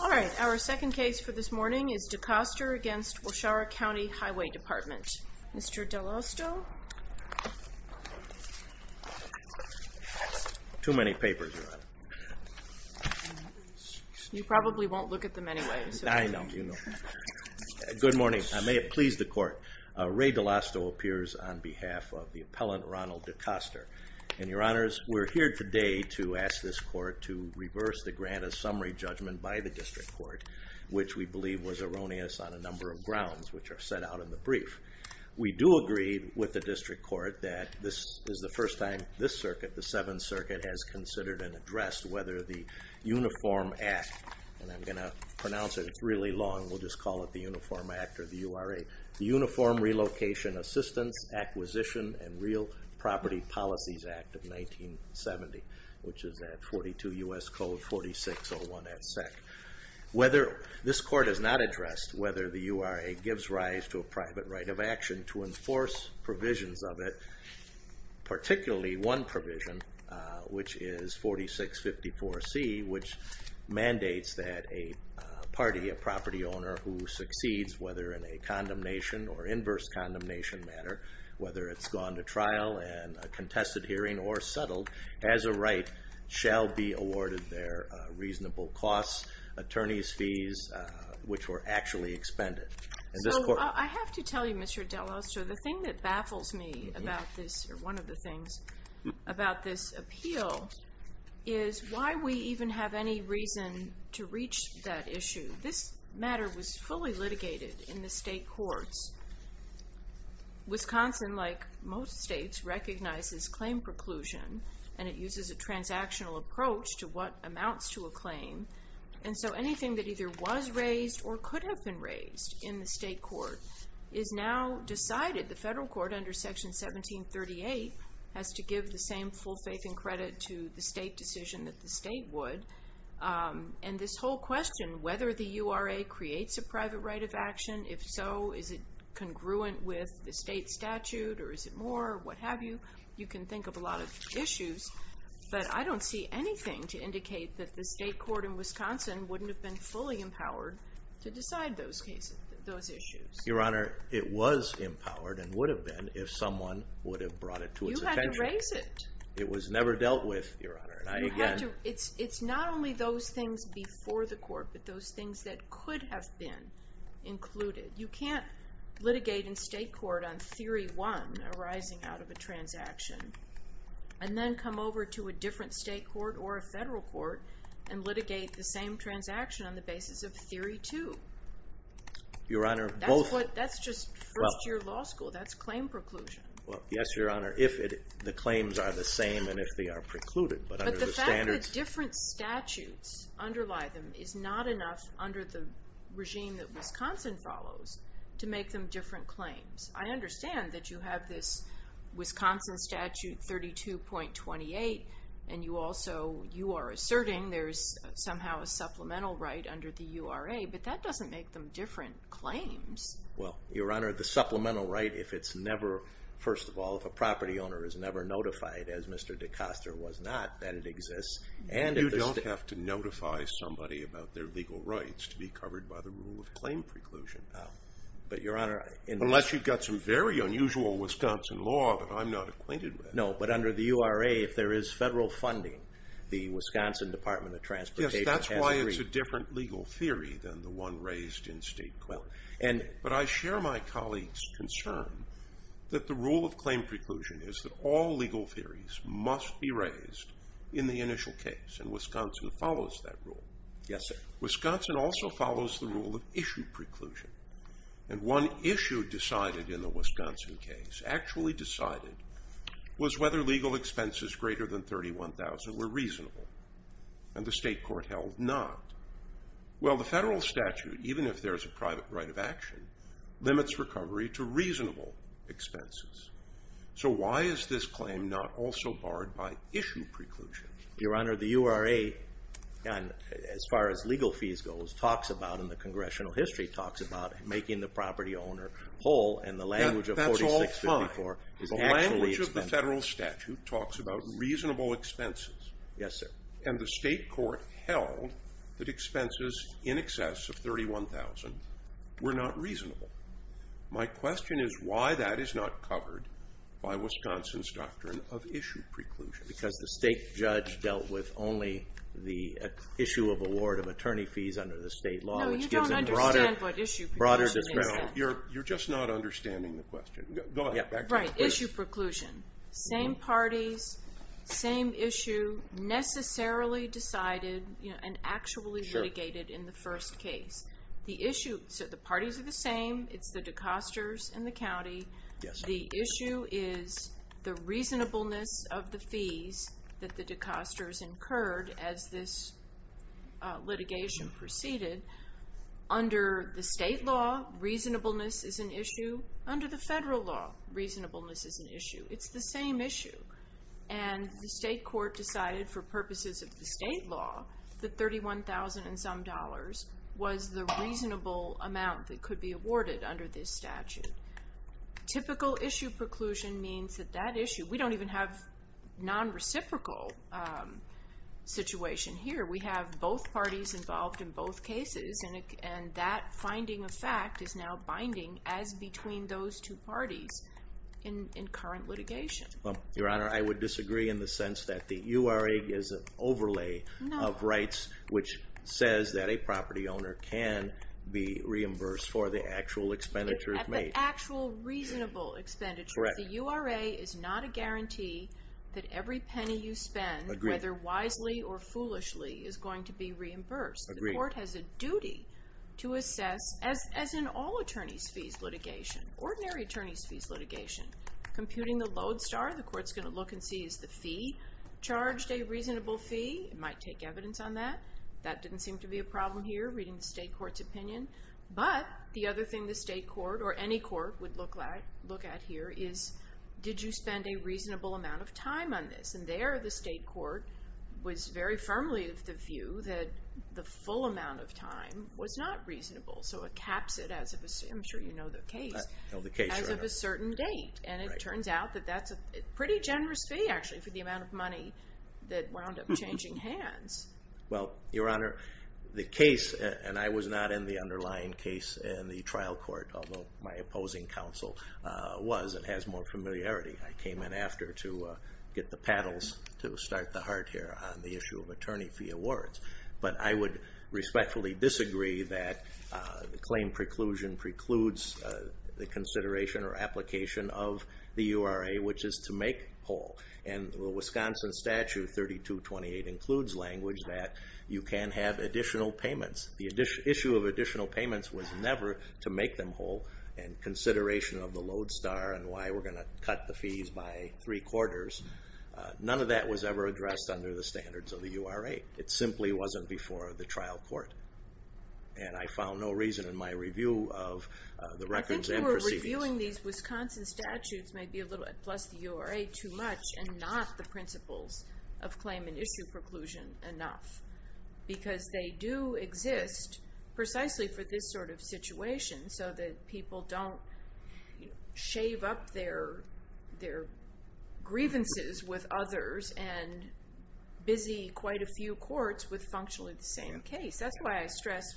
All right, our second case for this morning is DeCoster v. Waushara County Highway Dept. Mr. DeLosto? Too many papers, Your Honor. You probably won't look at them anyway. I know, you know. Good morning. I may have pleased the Court. Ray DeLosto appears on behalf of the appellant, Ronald DeCoster. And, Your Honors, we're here today to ask this Court to reverse the grant of summary judgment by the District Court, which we believe was erroneous on a number of grounds, which are set out in the brief. We do agree with the District Court that this is the first time this circuit, the Seventh Circuit, has considered and addressed whether the Uniform Act, and I'm going to pronounce it. It's really long. We'll just call it the Uniform Act or the URA. The Uniform Relocation Assistance, Acquisition, and Real Property Policies Act of 1970, which is at 42 U.S. Code 4601. Whether this Court has not addressed whether the URA gives rise to a private right of action to enforce provisions of it, particularly one provision, which is 4654C, which mandates that a party, a property owner, who succeeds, whether in a condemnation or inverse condemnation matter, whether it's gone to trial and a contested hearing or settled, has a right, shall be awarded their reasonable costs, attorney's fees, which were actually expended. So, I have to tell you, Mr. DeLosto, the thing that baffles me about this, or one of the things, about this appeal is why we even have any reason to reach that issue. This matter was fully litigated in the state courts. Wisconsin, like most states, recognizes claim preclusion, and it uses a transactional approach to what amounts to a claim, and so anything that either was raised or could have been raised in the state court is now decided. The federal court, under Section 1738, has to give the same full faith and credit to the state decision that the state would. And this whole question, whether the URA creates a private right of action, if so, is it congruent with the state statute, or is it more, or what have you, you can think of a lot of issues. But I don't see anything to indicate that the state court in Wisconsin wouldn't have been fully empowered to decide those issues. Your Honor, it was empowered, and would have been, if someone would have brought it to its attention. You had to raise it. It was never dealt with, Your Honor. It's not only those things before the court, but those things that could have been included. You can't litigate in state court on Theory 1, arising out of a transaction, and then come over to a different state court or a federal court, and litigate the same transaction on the basis of Theory 2. Your Honor, both... That's just first-year law school. That's claim preclusion. Well, yes, Your Honor, if the claims are the same and if they are precluded. But the fact that different statutes underlie them is not enough under the regime that Wisconsin follows to make them different claims. I understand that you have this Wisconsin statute 32.28, and you also, you are asserting there's somehow a supplemental right under the URA, but that doesn't make them different claims. Well, Your Honor, the supplemental right, if it's never, first of all, if a property owner is never notified, as Mr. DeCoster was not, that it exists. You don't have to notify somebody about their legal rights to be covered by the rule of claim preclusion. But, Your Honor... Unless you've got some very unusual Wisconsin law that I'm not acquainted with. No, but under the URA, if there is federal funding, the Wisconsin Department of Transportation has agreed. It's a different legal theory than the one raised in state court. But I share my colleague's concern that the rule of claim preclusion is that all legal theories must be raised in the initial case, and Wisconsin follows that rule. Yes, sir. Wisconsin also follows the rule of issue preclusion. And one issue decided in the Wisconsin case, actually decided, was whether legal expenses greater than $31,000 were reasonable. And the state court held not. Well, the federal statute, even if there's a private right of action, limits recovery to reasonable expenses. So why is this claim not also barred by issue preclusion? Your Honor, the URA, as far as legal fees goes, talks about, in the congressional history, talks about making the property owner whole, and the language of 4654... That's all fine. The language of the federal statute talks about reasonable expenses. Yes, sir. And the state court held that expenses in excess of $31,000 were not reasonable. My question is why that is not covered by Wisconsin's doctrine of issue preclusion. Because the state judge dealt with only the issue of award of attorney fees under the state law. No, you don't understand what issue preclusion is. You're just not understanding the question. Go ahead. Right, issue preclusion. Same parties, same issue, necessarily decided and actually litigated in the first case. The parties are the same. It's the decosters and the county. The issue is the reasonableness of the fees that the decosters incurred as this litigation proceeded. Under the state law, reasonableness is an issue. It's the same issue. And the state court decided, for purposes of the state law, that $31,000 and some dollars was the reasonable amount that could be awarded under this statute. Typical issue preclusion means that that issue, we don't even have non-reciprocal situation here. We have both parties involved in both cases, and that finding of fact is now binding as between those two parties in current litigation. Your Honor, I would disagree in the sense that the URA is an overlay of rights, which says that a property owner can be reimbursed for the actual expenditure made. At the actual reasonable expenditure. Correct. The URA is not a guarantee that every penny you spend, whether wisely or foolishly, is going to be reimbursed. Agreed. The state court has a duty to assess, as in all attorneys' fees litigation, ordinary attorneys' fees litigation, computing the load star, the court's going to look and see, is the fee charged a reasonable fee? It might take evidence on that. That didn't seem to be a problem here, reading the state court's opinion. But the other thing the state court, or any court, would look at here is, did you spend a reasonable amount of time on this? And there the state court was very firmly of the view that the full amount of time was not reasonable. So it caps it, I'm sure you know the case, as of a certain date. And it turns out that that's a pretty generous fee, actually, for the amount of money that wound up changing hands. Well, Your Honor, the case, and I was not in the underlying case in the trial court, although my opposing counsel was and has more familiarity. I came in after to get the paddles to start the heart here on the issue of attorney fee awards. But I would respectfully disagree that the claim preclusion precludes the consideration or application of the URA, which is to make whole. And the Wisconsin Statute 3228 includes language that you can have additional payments. The issue of additional payments was never to make them whole, and consideration of the load star and why we're going to cut the fees by three quarters, none of that was ever addressed under the standards of the URA. It simply wasn't before the trial court. And I found no reason in my review of the records and proceedings. I think you were reviewing these Wisconsin statutes, plus the URA, too much, and not the principles of claim and issue preclusion enough. Because they do exist precisely for this sort of situation, so that people don't shave up their grievances with others and busy quite a few courts with functionally the same case. That's why I stress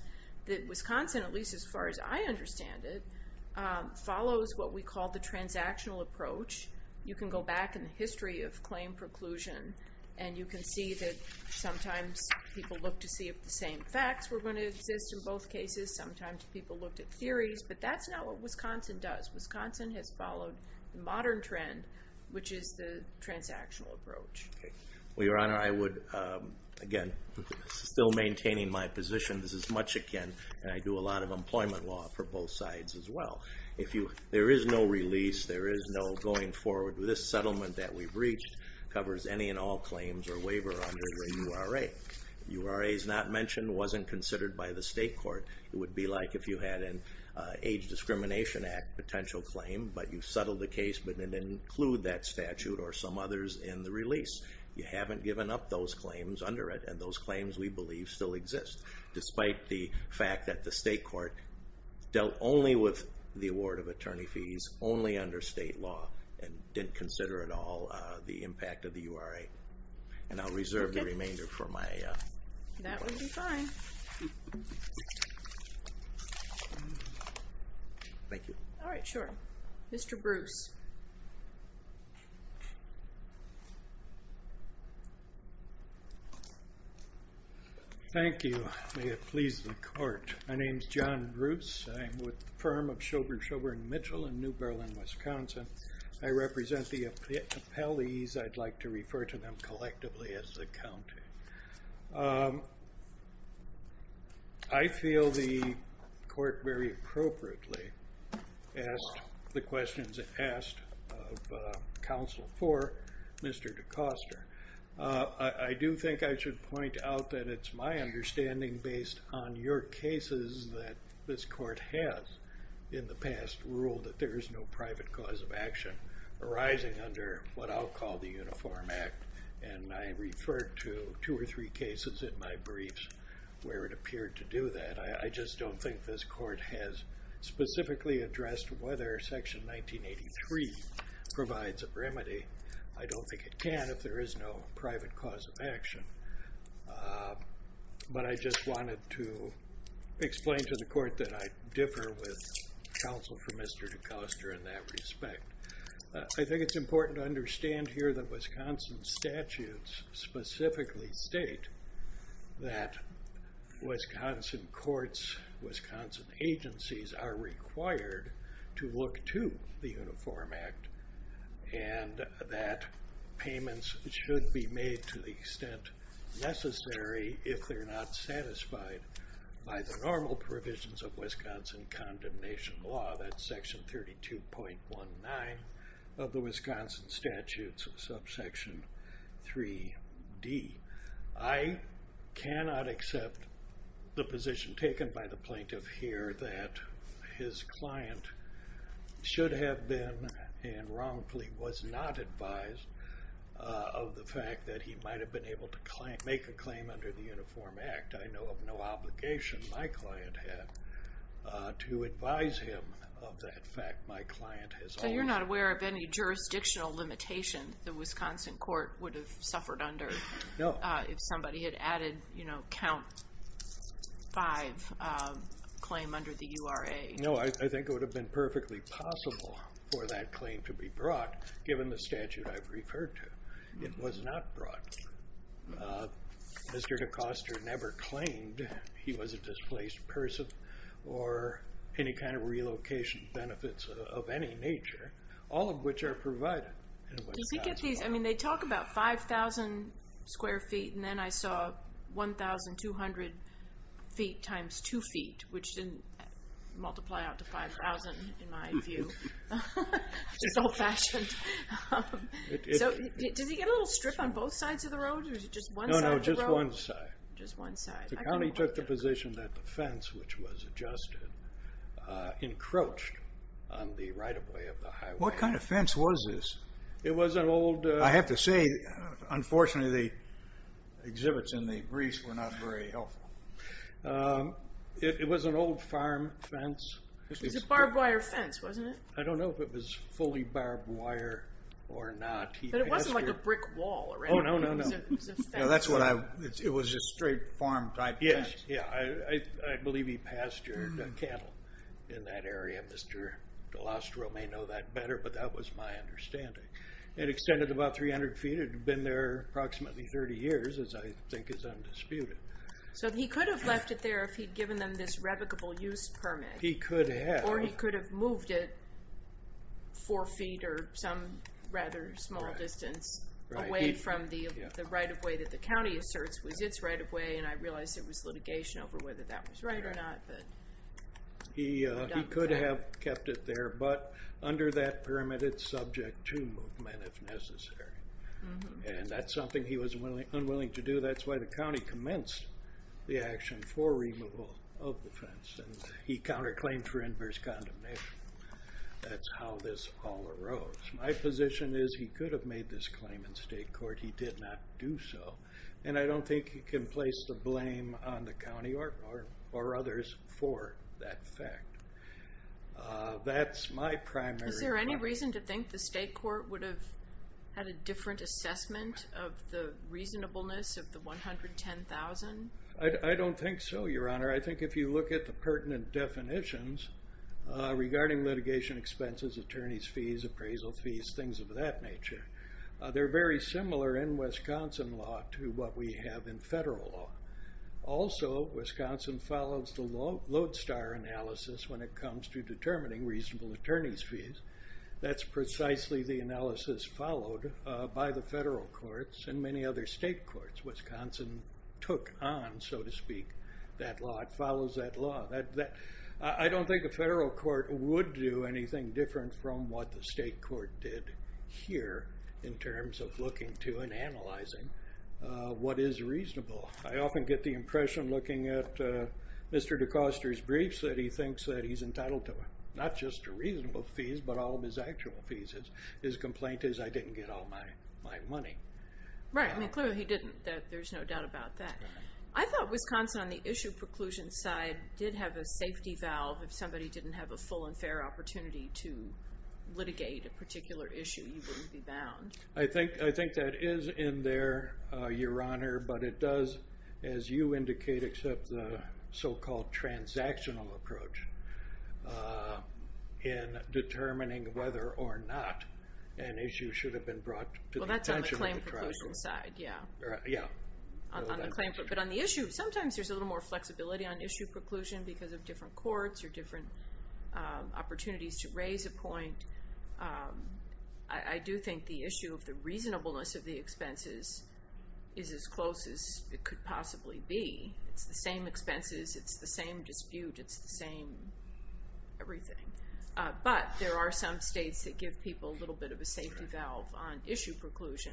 that Wisconsin, at least as far as I understand it, follows what we call the transactional approach. You can go back in the history of claim preclusion, and you can see that sometimes people look to see if the same facts were going to exist in both cases. Sometimes people looked at theories, but that's not what Wisconsin does. Wisconsin has followed the modern trend, which is the transactional approach. Well, Your Honor, I would, again, still maintaining my position, this is much akin, and I do a lot of employment law for both sides as well. There is no release, there is no going forward. This settlement that we've reached covers any and all claims or waiver under the URA. URA is not mentioned, wasn't considered by the state court. It would be like if you had an Age Discrimination Act potential claim, but you settled the case but didn't include that statute or some others in the release. You haven't given up those claims under it, and those claims, we believe, still exist, despite the fact that the state court dealt only with the award of attorney fees, only under state law, and didn't consider at all the impact of the URA. And I'll reserve the remainder for my... Thank you. All right, sure. Mr. Bruce. Thank you. May it please the court. My name's John Bruce. I'm with the firm of Shoburn & Shoburn & Mitchell in New Berlin, Wisconsin. I represent the appellees. I'd like to refer to them collectively as the county. I feel the court very appropriately asked the questions asked of counsel for Mr. DeCoster. I do think I should point out that it's my understanding, based on your cases that this court has in the past, ruled that there is no private cause of action arising under what I'll call the Uniform Act, and I referred to two or three cases in my briefs where it appeared to do that. I just don't think this court has specifically addressed whether Section 1983 provides a remedy. I don't think it can if there is no private cause of action. But I just wanted to explain to the court that I differ with counsel for Mr. DeCoster in that respect. I think it's important to understand here that Wisconsin statutes specifically state that Wisconsin courts, Wisconsin agencies are required to look to the Uniform Act and that payments should be made to the extent necessary if they're not satisfied by the normal provisions of Wisconsin condemnation law. That's Section 32.19 of the Wisconsin statutes, subsection 3D. I cannot accept the position taken by the plaintiff here that his client should have been and wrongfully was not advised of the fact that he might have been able to make a claim under the Uniform Act. I know of no obligation my client had to advise him of that fact. My client has always... So you're not aware of any jurisdictional limitation the Wisconsin court would have suffered under if somebody had added, you know, count five claim under the URA? No, I think it would have been perfectly possible for that claim to be brought, given the statute I've referred to. It was not brought. Mr. DeCoster never claimed he was a displaced person or any kind of relocation benefits of any nature, all of which are provided. Does he get these, I mean, they talk about 5,000 square feet and then I saw 1,200 feet times two feet, which didn't multiply out to 5,000 in my view. It's old fashioned. Does he get a little strip on both sides of the road or is it just one side of the road? No, no, just one side. Just one side. The county took the position that the fence, which was adjusted, encroached on the right-of-way of the highway. What kind of fence was this? It was an old... I have to say, unfortunately, the exhibits in the grease were not very helpful. It was an old farm fence. It was a barbed wire fence, wasn't it? I don't know if it was fully barbed wire or not. But it wasn't like a brick wall or anything. Oh, no, no, no. It was a fence. It was a straight farm type fence. Yeah, I believe he pastured cattle in that area. Mr. DeLostro may know that better, but that was my understanding. It extended about 300 feet. It had been there approximately 30 years, as I think is undisputed. So he could have left it there if he'd given them this revocable use permit. He could have. Or he could have moved it four feet or some rather small distance away from the right-of-way that the county asserts was its right-of-way, and I realize it was litigation over whether that was right or not. He could have kept it there, but under that permit it's subject to movement if necessary. And that's something he was unwilling to do. That's why the county commenced the action for removal of the fence. He counterclaimed for inverse condemnation. That's how this all arose. My position is he could have made this claim in state court. He did not do so, and I don't think he can place the blame on the county or others for that fact. That's my primary thought. Is there any reason to think the state court would have had a different assessment of the reasonableness of the $110,000? I don't think so, Your Honor. I think if you look at the pertinent definitions regarding litigation expenses, attorney's fees, appraisal fees, things of that nature, they're very similar in Wisconsin law to what we have in federal law. Also, Wisconsin follows the lodestar analysis when it comes to determining reasonable attorney's fees. That's precisely the analysis followed by the federal courts and many other state courts. Wisconsin took on, so to speak, that law. It follows that law. I don't think a federal court would do anything different from what the state court did here in terms of looking to and analyzing what is reasonable. I often get the impression looking at Mr. DeCoster's briefs that he thinks that he's entitled to not just reasonable fees but all of his actual fees. His complaint is, I didn't get all my money. Right. I mean, clearly he didn't. There's no doubt about that. I thought Wisconsin on the issue preclusion side did have a safety valve if somebody didn't have a full and fair opportunity to litigate a particular issue, you wouldn't be bound. I think that is in there, Your Honor, but it does, as you indicate, accept the so-called transactional approach in determining whether or not an issue should have been brought to the attention of the court. Well, that's on the claim preclusion side, yeah. But on the issue, sometimes there's a little more flexibility on issue preclusion because of different courts or different opportunities to raise a point. I do think the issue of the reasonableness of the expenses is as close as it could possibly be. It's the same expenses. It's the same dispute. It's the same everything. But there are some states that give people a little bit of a safety valve on issue preclusion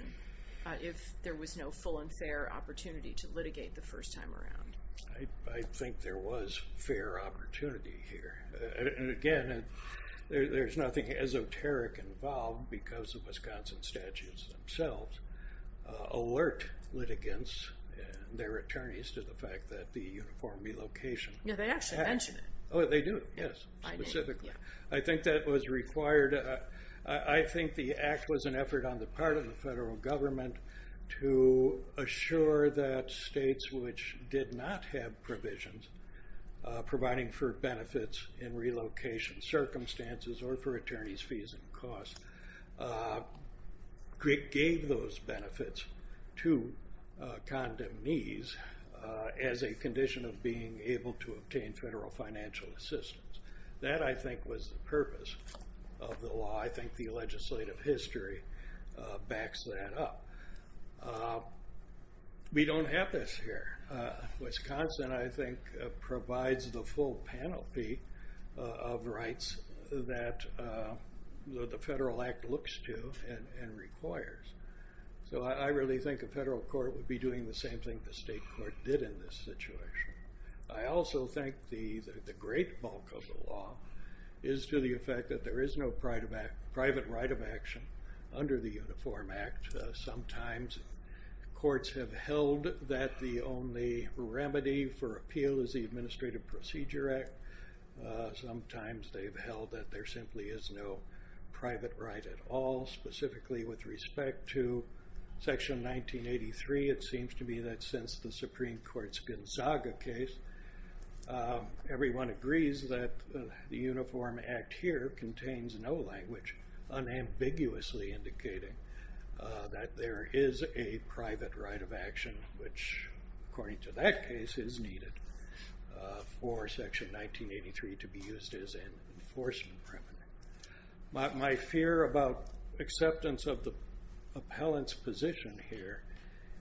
if there was no full and fair opportunity to litigate the first time around. I think there was fair opportunity here. And, again, there's nothing esoteric involved because the Wisconsin statutes themselves alert litigants and their attorneys to the fact that the uniform relocation act. No, they actually mention it. Oh, they do, yes, specifically. I think that was required. I think the act was an effort on the part of the federal government to assure that states which did not have provisions providing for benefits in relocation circumstances or for attorney's fees and costs gave those benefits to condemnees as a condition of being able to obtain federal financial assistance. That, I think, was the purpose of the law. I think the legislative history backs that up. We don't have this here. Wisconsin, I think, provides the full panoply of rights that the federal act looks to and requires. So I really think a federal court would be doing the same thing the state court did in this situation. I also think the great bulk of the law is to the effect that there is no private right of action under the Uniform Act. Sometimes courts have held that the only remedy for appeal is the Administrative Procedure Act. Sometimes they've held that there simply is no private right at all, specifically with respect to Section 1983. It seems to me that since the Supreme Court's Gonzaga case, everyone agrees that the Uniform Act here contains no language unambiguously indicating that there is a private right of action which, according to that case, is needed for Section 1983 to be used as an enforcement remedy. My fear about acceptance of the appellant's position here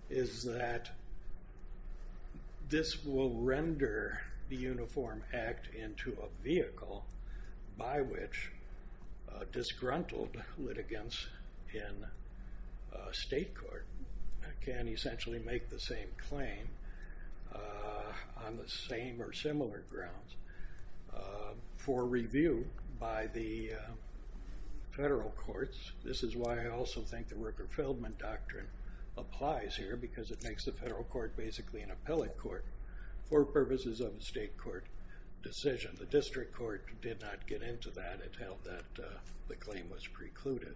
is that this will render the Uniform Act into a vehicle by which disgruntled litigants in state court can essentially make the same claim on the same or similar grounds for review by the federal courts. This is why I also think the Rooker-Feldman Doctrine applies here because it makes the federal court basically an appellate court for purposes of a state court decision. The district court did not get into that. It held that the claim was precluded.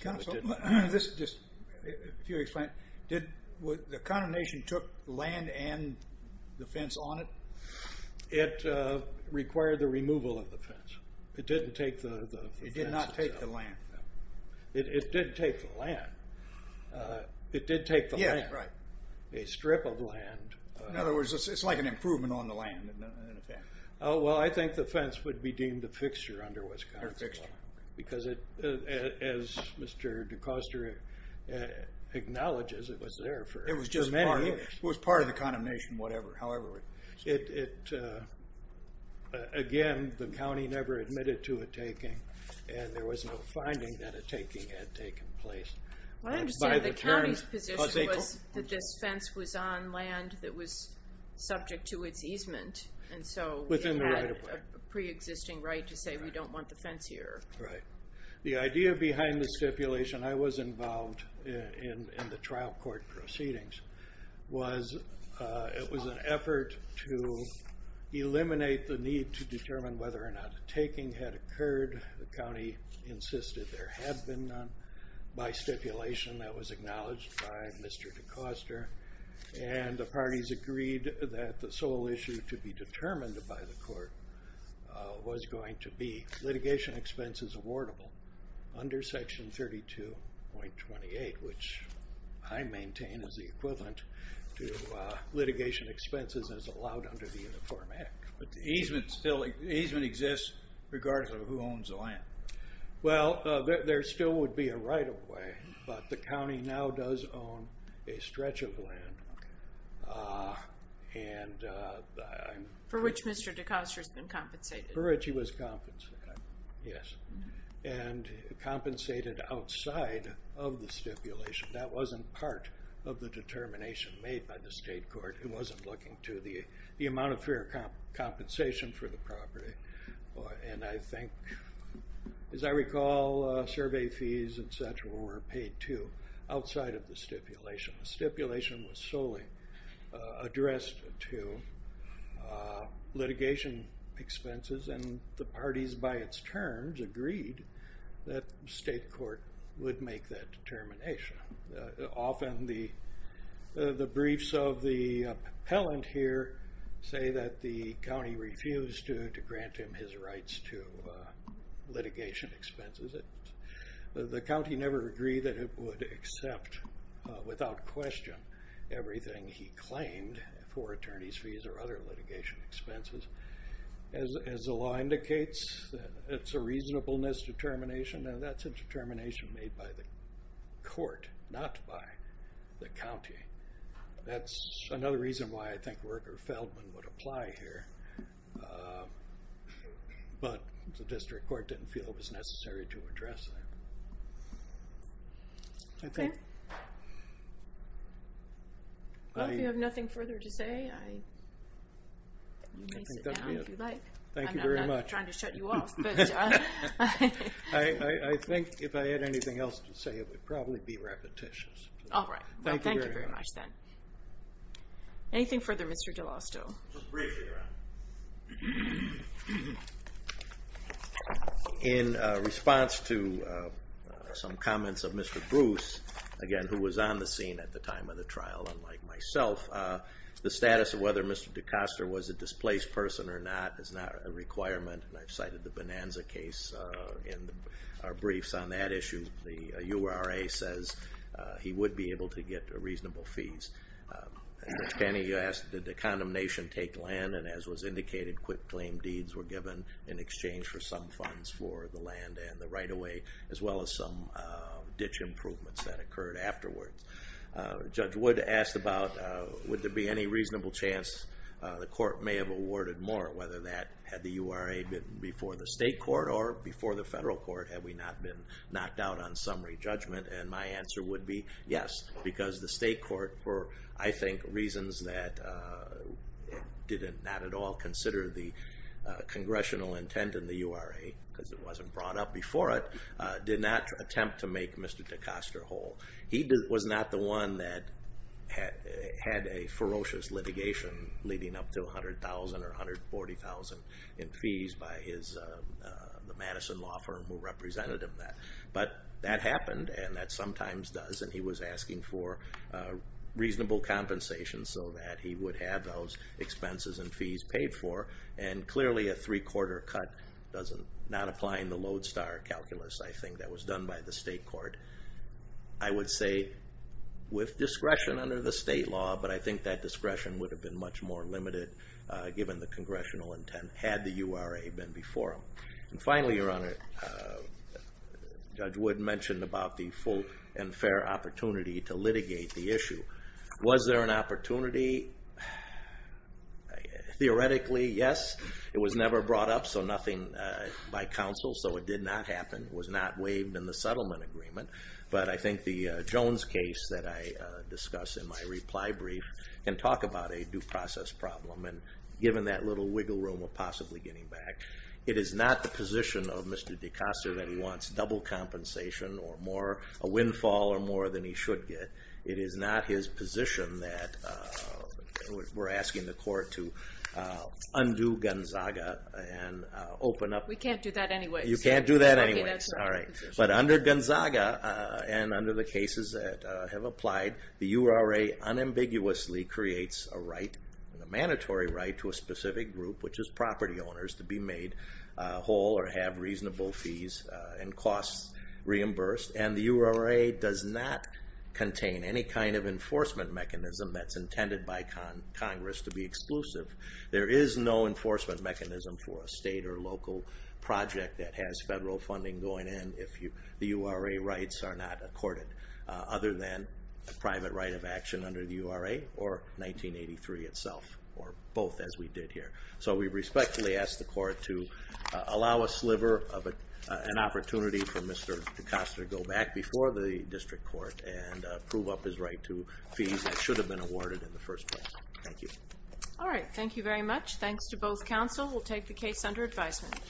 If you'll explain, did the condemnation took land and the fence on it? It required the removal of the fence. It didn't take the fence. It did not take the land. It did take the land. It did take the land. Yeah, right. A strip of land. In other words, it's like an improvement on the land in effect. Well, I think the fence would be deemed a fixture under Wisconsin law because, as Mr. DeCoster acknowledges, it was there for many years. It was part of the condemnation, however. Again, the county never admitted to a taking, and there was no finding that a taking had taken place. I understand the county's position was that this fence was on land Within the right of way. We have a preexisting right to say we don't want the fence here. Right. The idea behind the stipulation, I was involved in the trial court proceedings, was it was an effort to eliminate the need to determine whether or not a taking had occurred. The county insisted there had been none. By stipulation, that was acknowledged by Mr. DeCoster, and the parties agreed that the sole issue to be determined by the court was going to be litigation expenses awardable under section 32.28, which I maintain is the equivalent to litigation expenses as allowed under the Uniform Act. But the easement exists regardless of who owns the land. Well, there still would be a right of way, but the county now does own a stretch of land. For which Mr. DeCoster has been compensated. For which he was compensated, yes. And compensated outside of the stipulation. That wasn't part of the determination made by the state court. It wasn't looking to the amount of fair compensation for the property. And I think, as I recall, survey fees, et cetera, were paid, too, outside of the stipulation. The stipulation was solely addressed to litigation expenses, and the parties, by its terms, agreed that the state court would make that determination. Often the briefs of the appellant here say that the county refused to grant him his rights to litigation expenses. The county never agreed that it would accept, without question, everything he claimed for attorney's fees or other litigation expenses. As the law indicates, it's a reasonableness determination, and that's a determination made by the court, not by the county. That's another reason why I think Worker Feldman would apply here. But the district court didn't feel it was necessary to address that. Well, if you have nothing further to say, you may sit down if you'd like. Thank you very much. I'm not trying to shut you off. I think if I had anything else to say, it would probably be repetitious. All right. Thank you very much, then. Anything further, Mr. DeLosto? Just briefly, Ron. In response to some comments of Mr. Bruce, again, who was on the scene at the time of the trial, unlike myself, the status of whether Mr. DeCoster was a displaced person or not is not a requirement, and I've cited the Bonanza case in our briefs on that issue. The URA says he would be able to get reasonable fees. Judge Panning, you asked, did the condemnation take land, and as was indicated, quick claim deeds were given in exchange for some funds for the land and the right-of-way, as well as some ditch improvements that occurred afterwards. Judge Wood asked about would there be any reasonable chance the court may have awarded more, whether that had the URA been before the state court or before the federal court had we not been knocked out on summary judgment, and my answer would be yes, because the state court, for, I think, reasons that did not at all consider the congressional intent in the URA, because it wasn't brought up before it, did not attempt to make Mr. DeCoster whole. He was not the one that had a ferocious litigation leading up to $100,000 or $140,000 in fees by the Madison law firm who represented him. But that happened, and that sometimes does, and he was asking for reasonable compensation so that he would have those expenses and fees paid for, and clearly a three-quarter cut does not apply in the Lodestar calculus, I think, that was done by the state court. I would say with discretion under the state law, but I think that discretion would have been much more limited given the congressional intent had the URA been before him. And finally, Your Honor, Judge Wood mentioned about the full and fair opportunity to litigate the issue. Was there an opportunity? Theoretically, yes. It was never brought up by counsel, so it did not happen. It was not waived in the settlement agreement, but I think the Jones case that I discussed in my reply brief can talk about a due process problem, and given that little wiggle room of possibly getting back, it is not the position of Mr. DeCosta that he wants double compensation or more, a windfall or more than he should get. It is not his position that we're asking the court to undo Gonzaga and open up. We can't do that anyway. You can't do that anyway, all right. But under Gonzaga and under the cases that have applied, the URA unambiguously creates a right, a mandatory right to a specific group, which is property owners to be made whole or have reasonable fees and costs reimbursed, and the URA does not contain any kind of enforcement mechanism that's intended by Congress to be exclusive. There is no enforcement mechanism for a state or local project that has federal funding going in if the URA rights are not accorded, other than a private right of action under the URA or 1983 itself or both as we did here. So we respectfully ask the court to allow a sliver of an opportunity for Mr. DeCosta to go back before the district court and prove up his right to fees that should have been awarded in the first place. Thank you. All right, thank you very much. Thanks to both counsel. We'll take the case under advisement.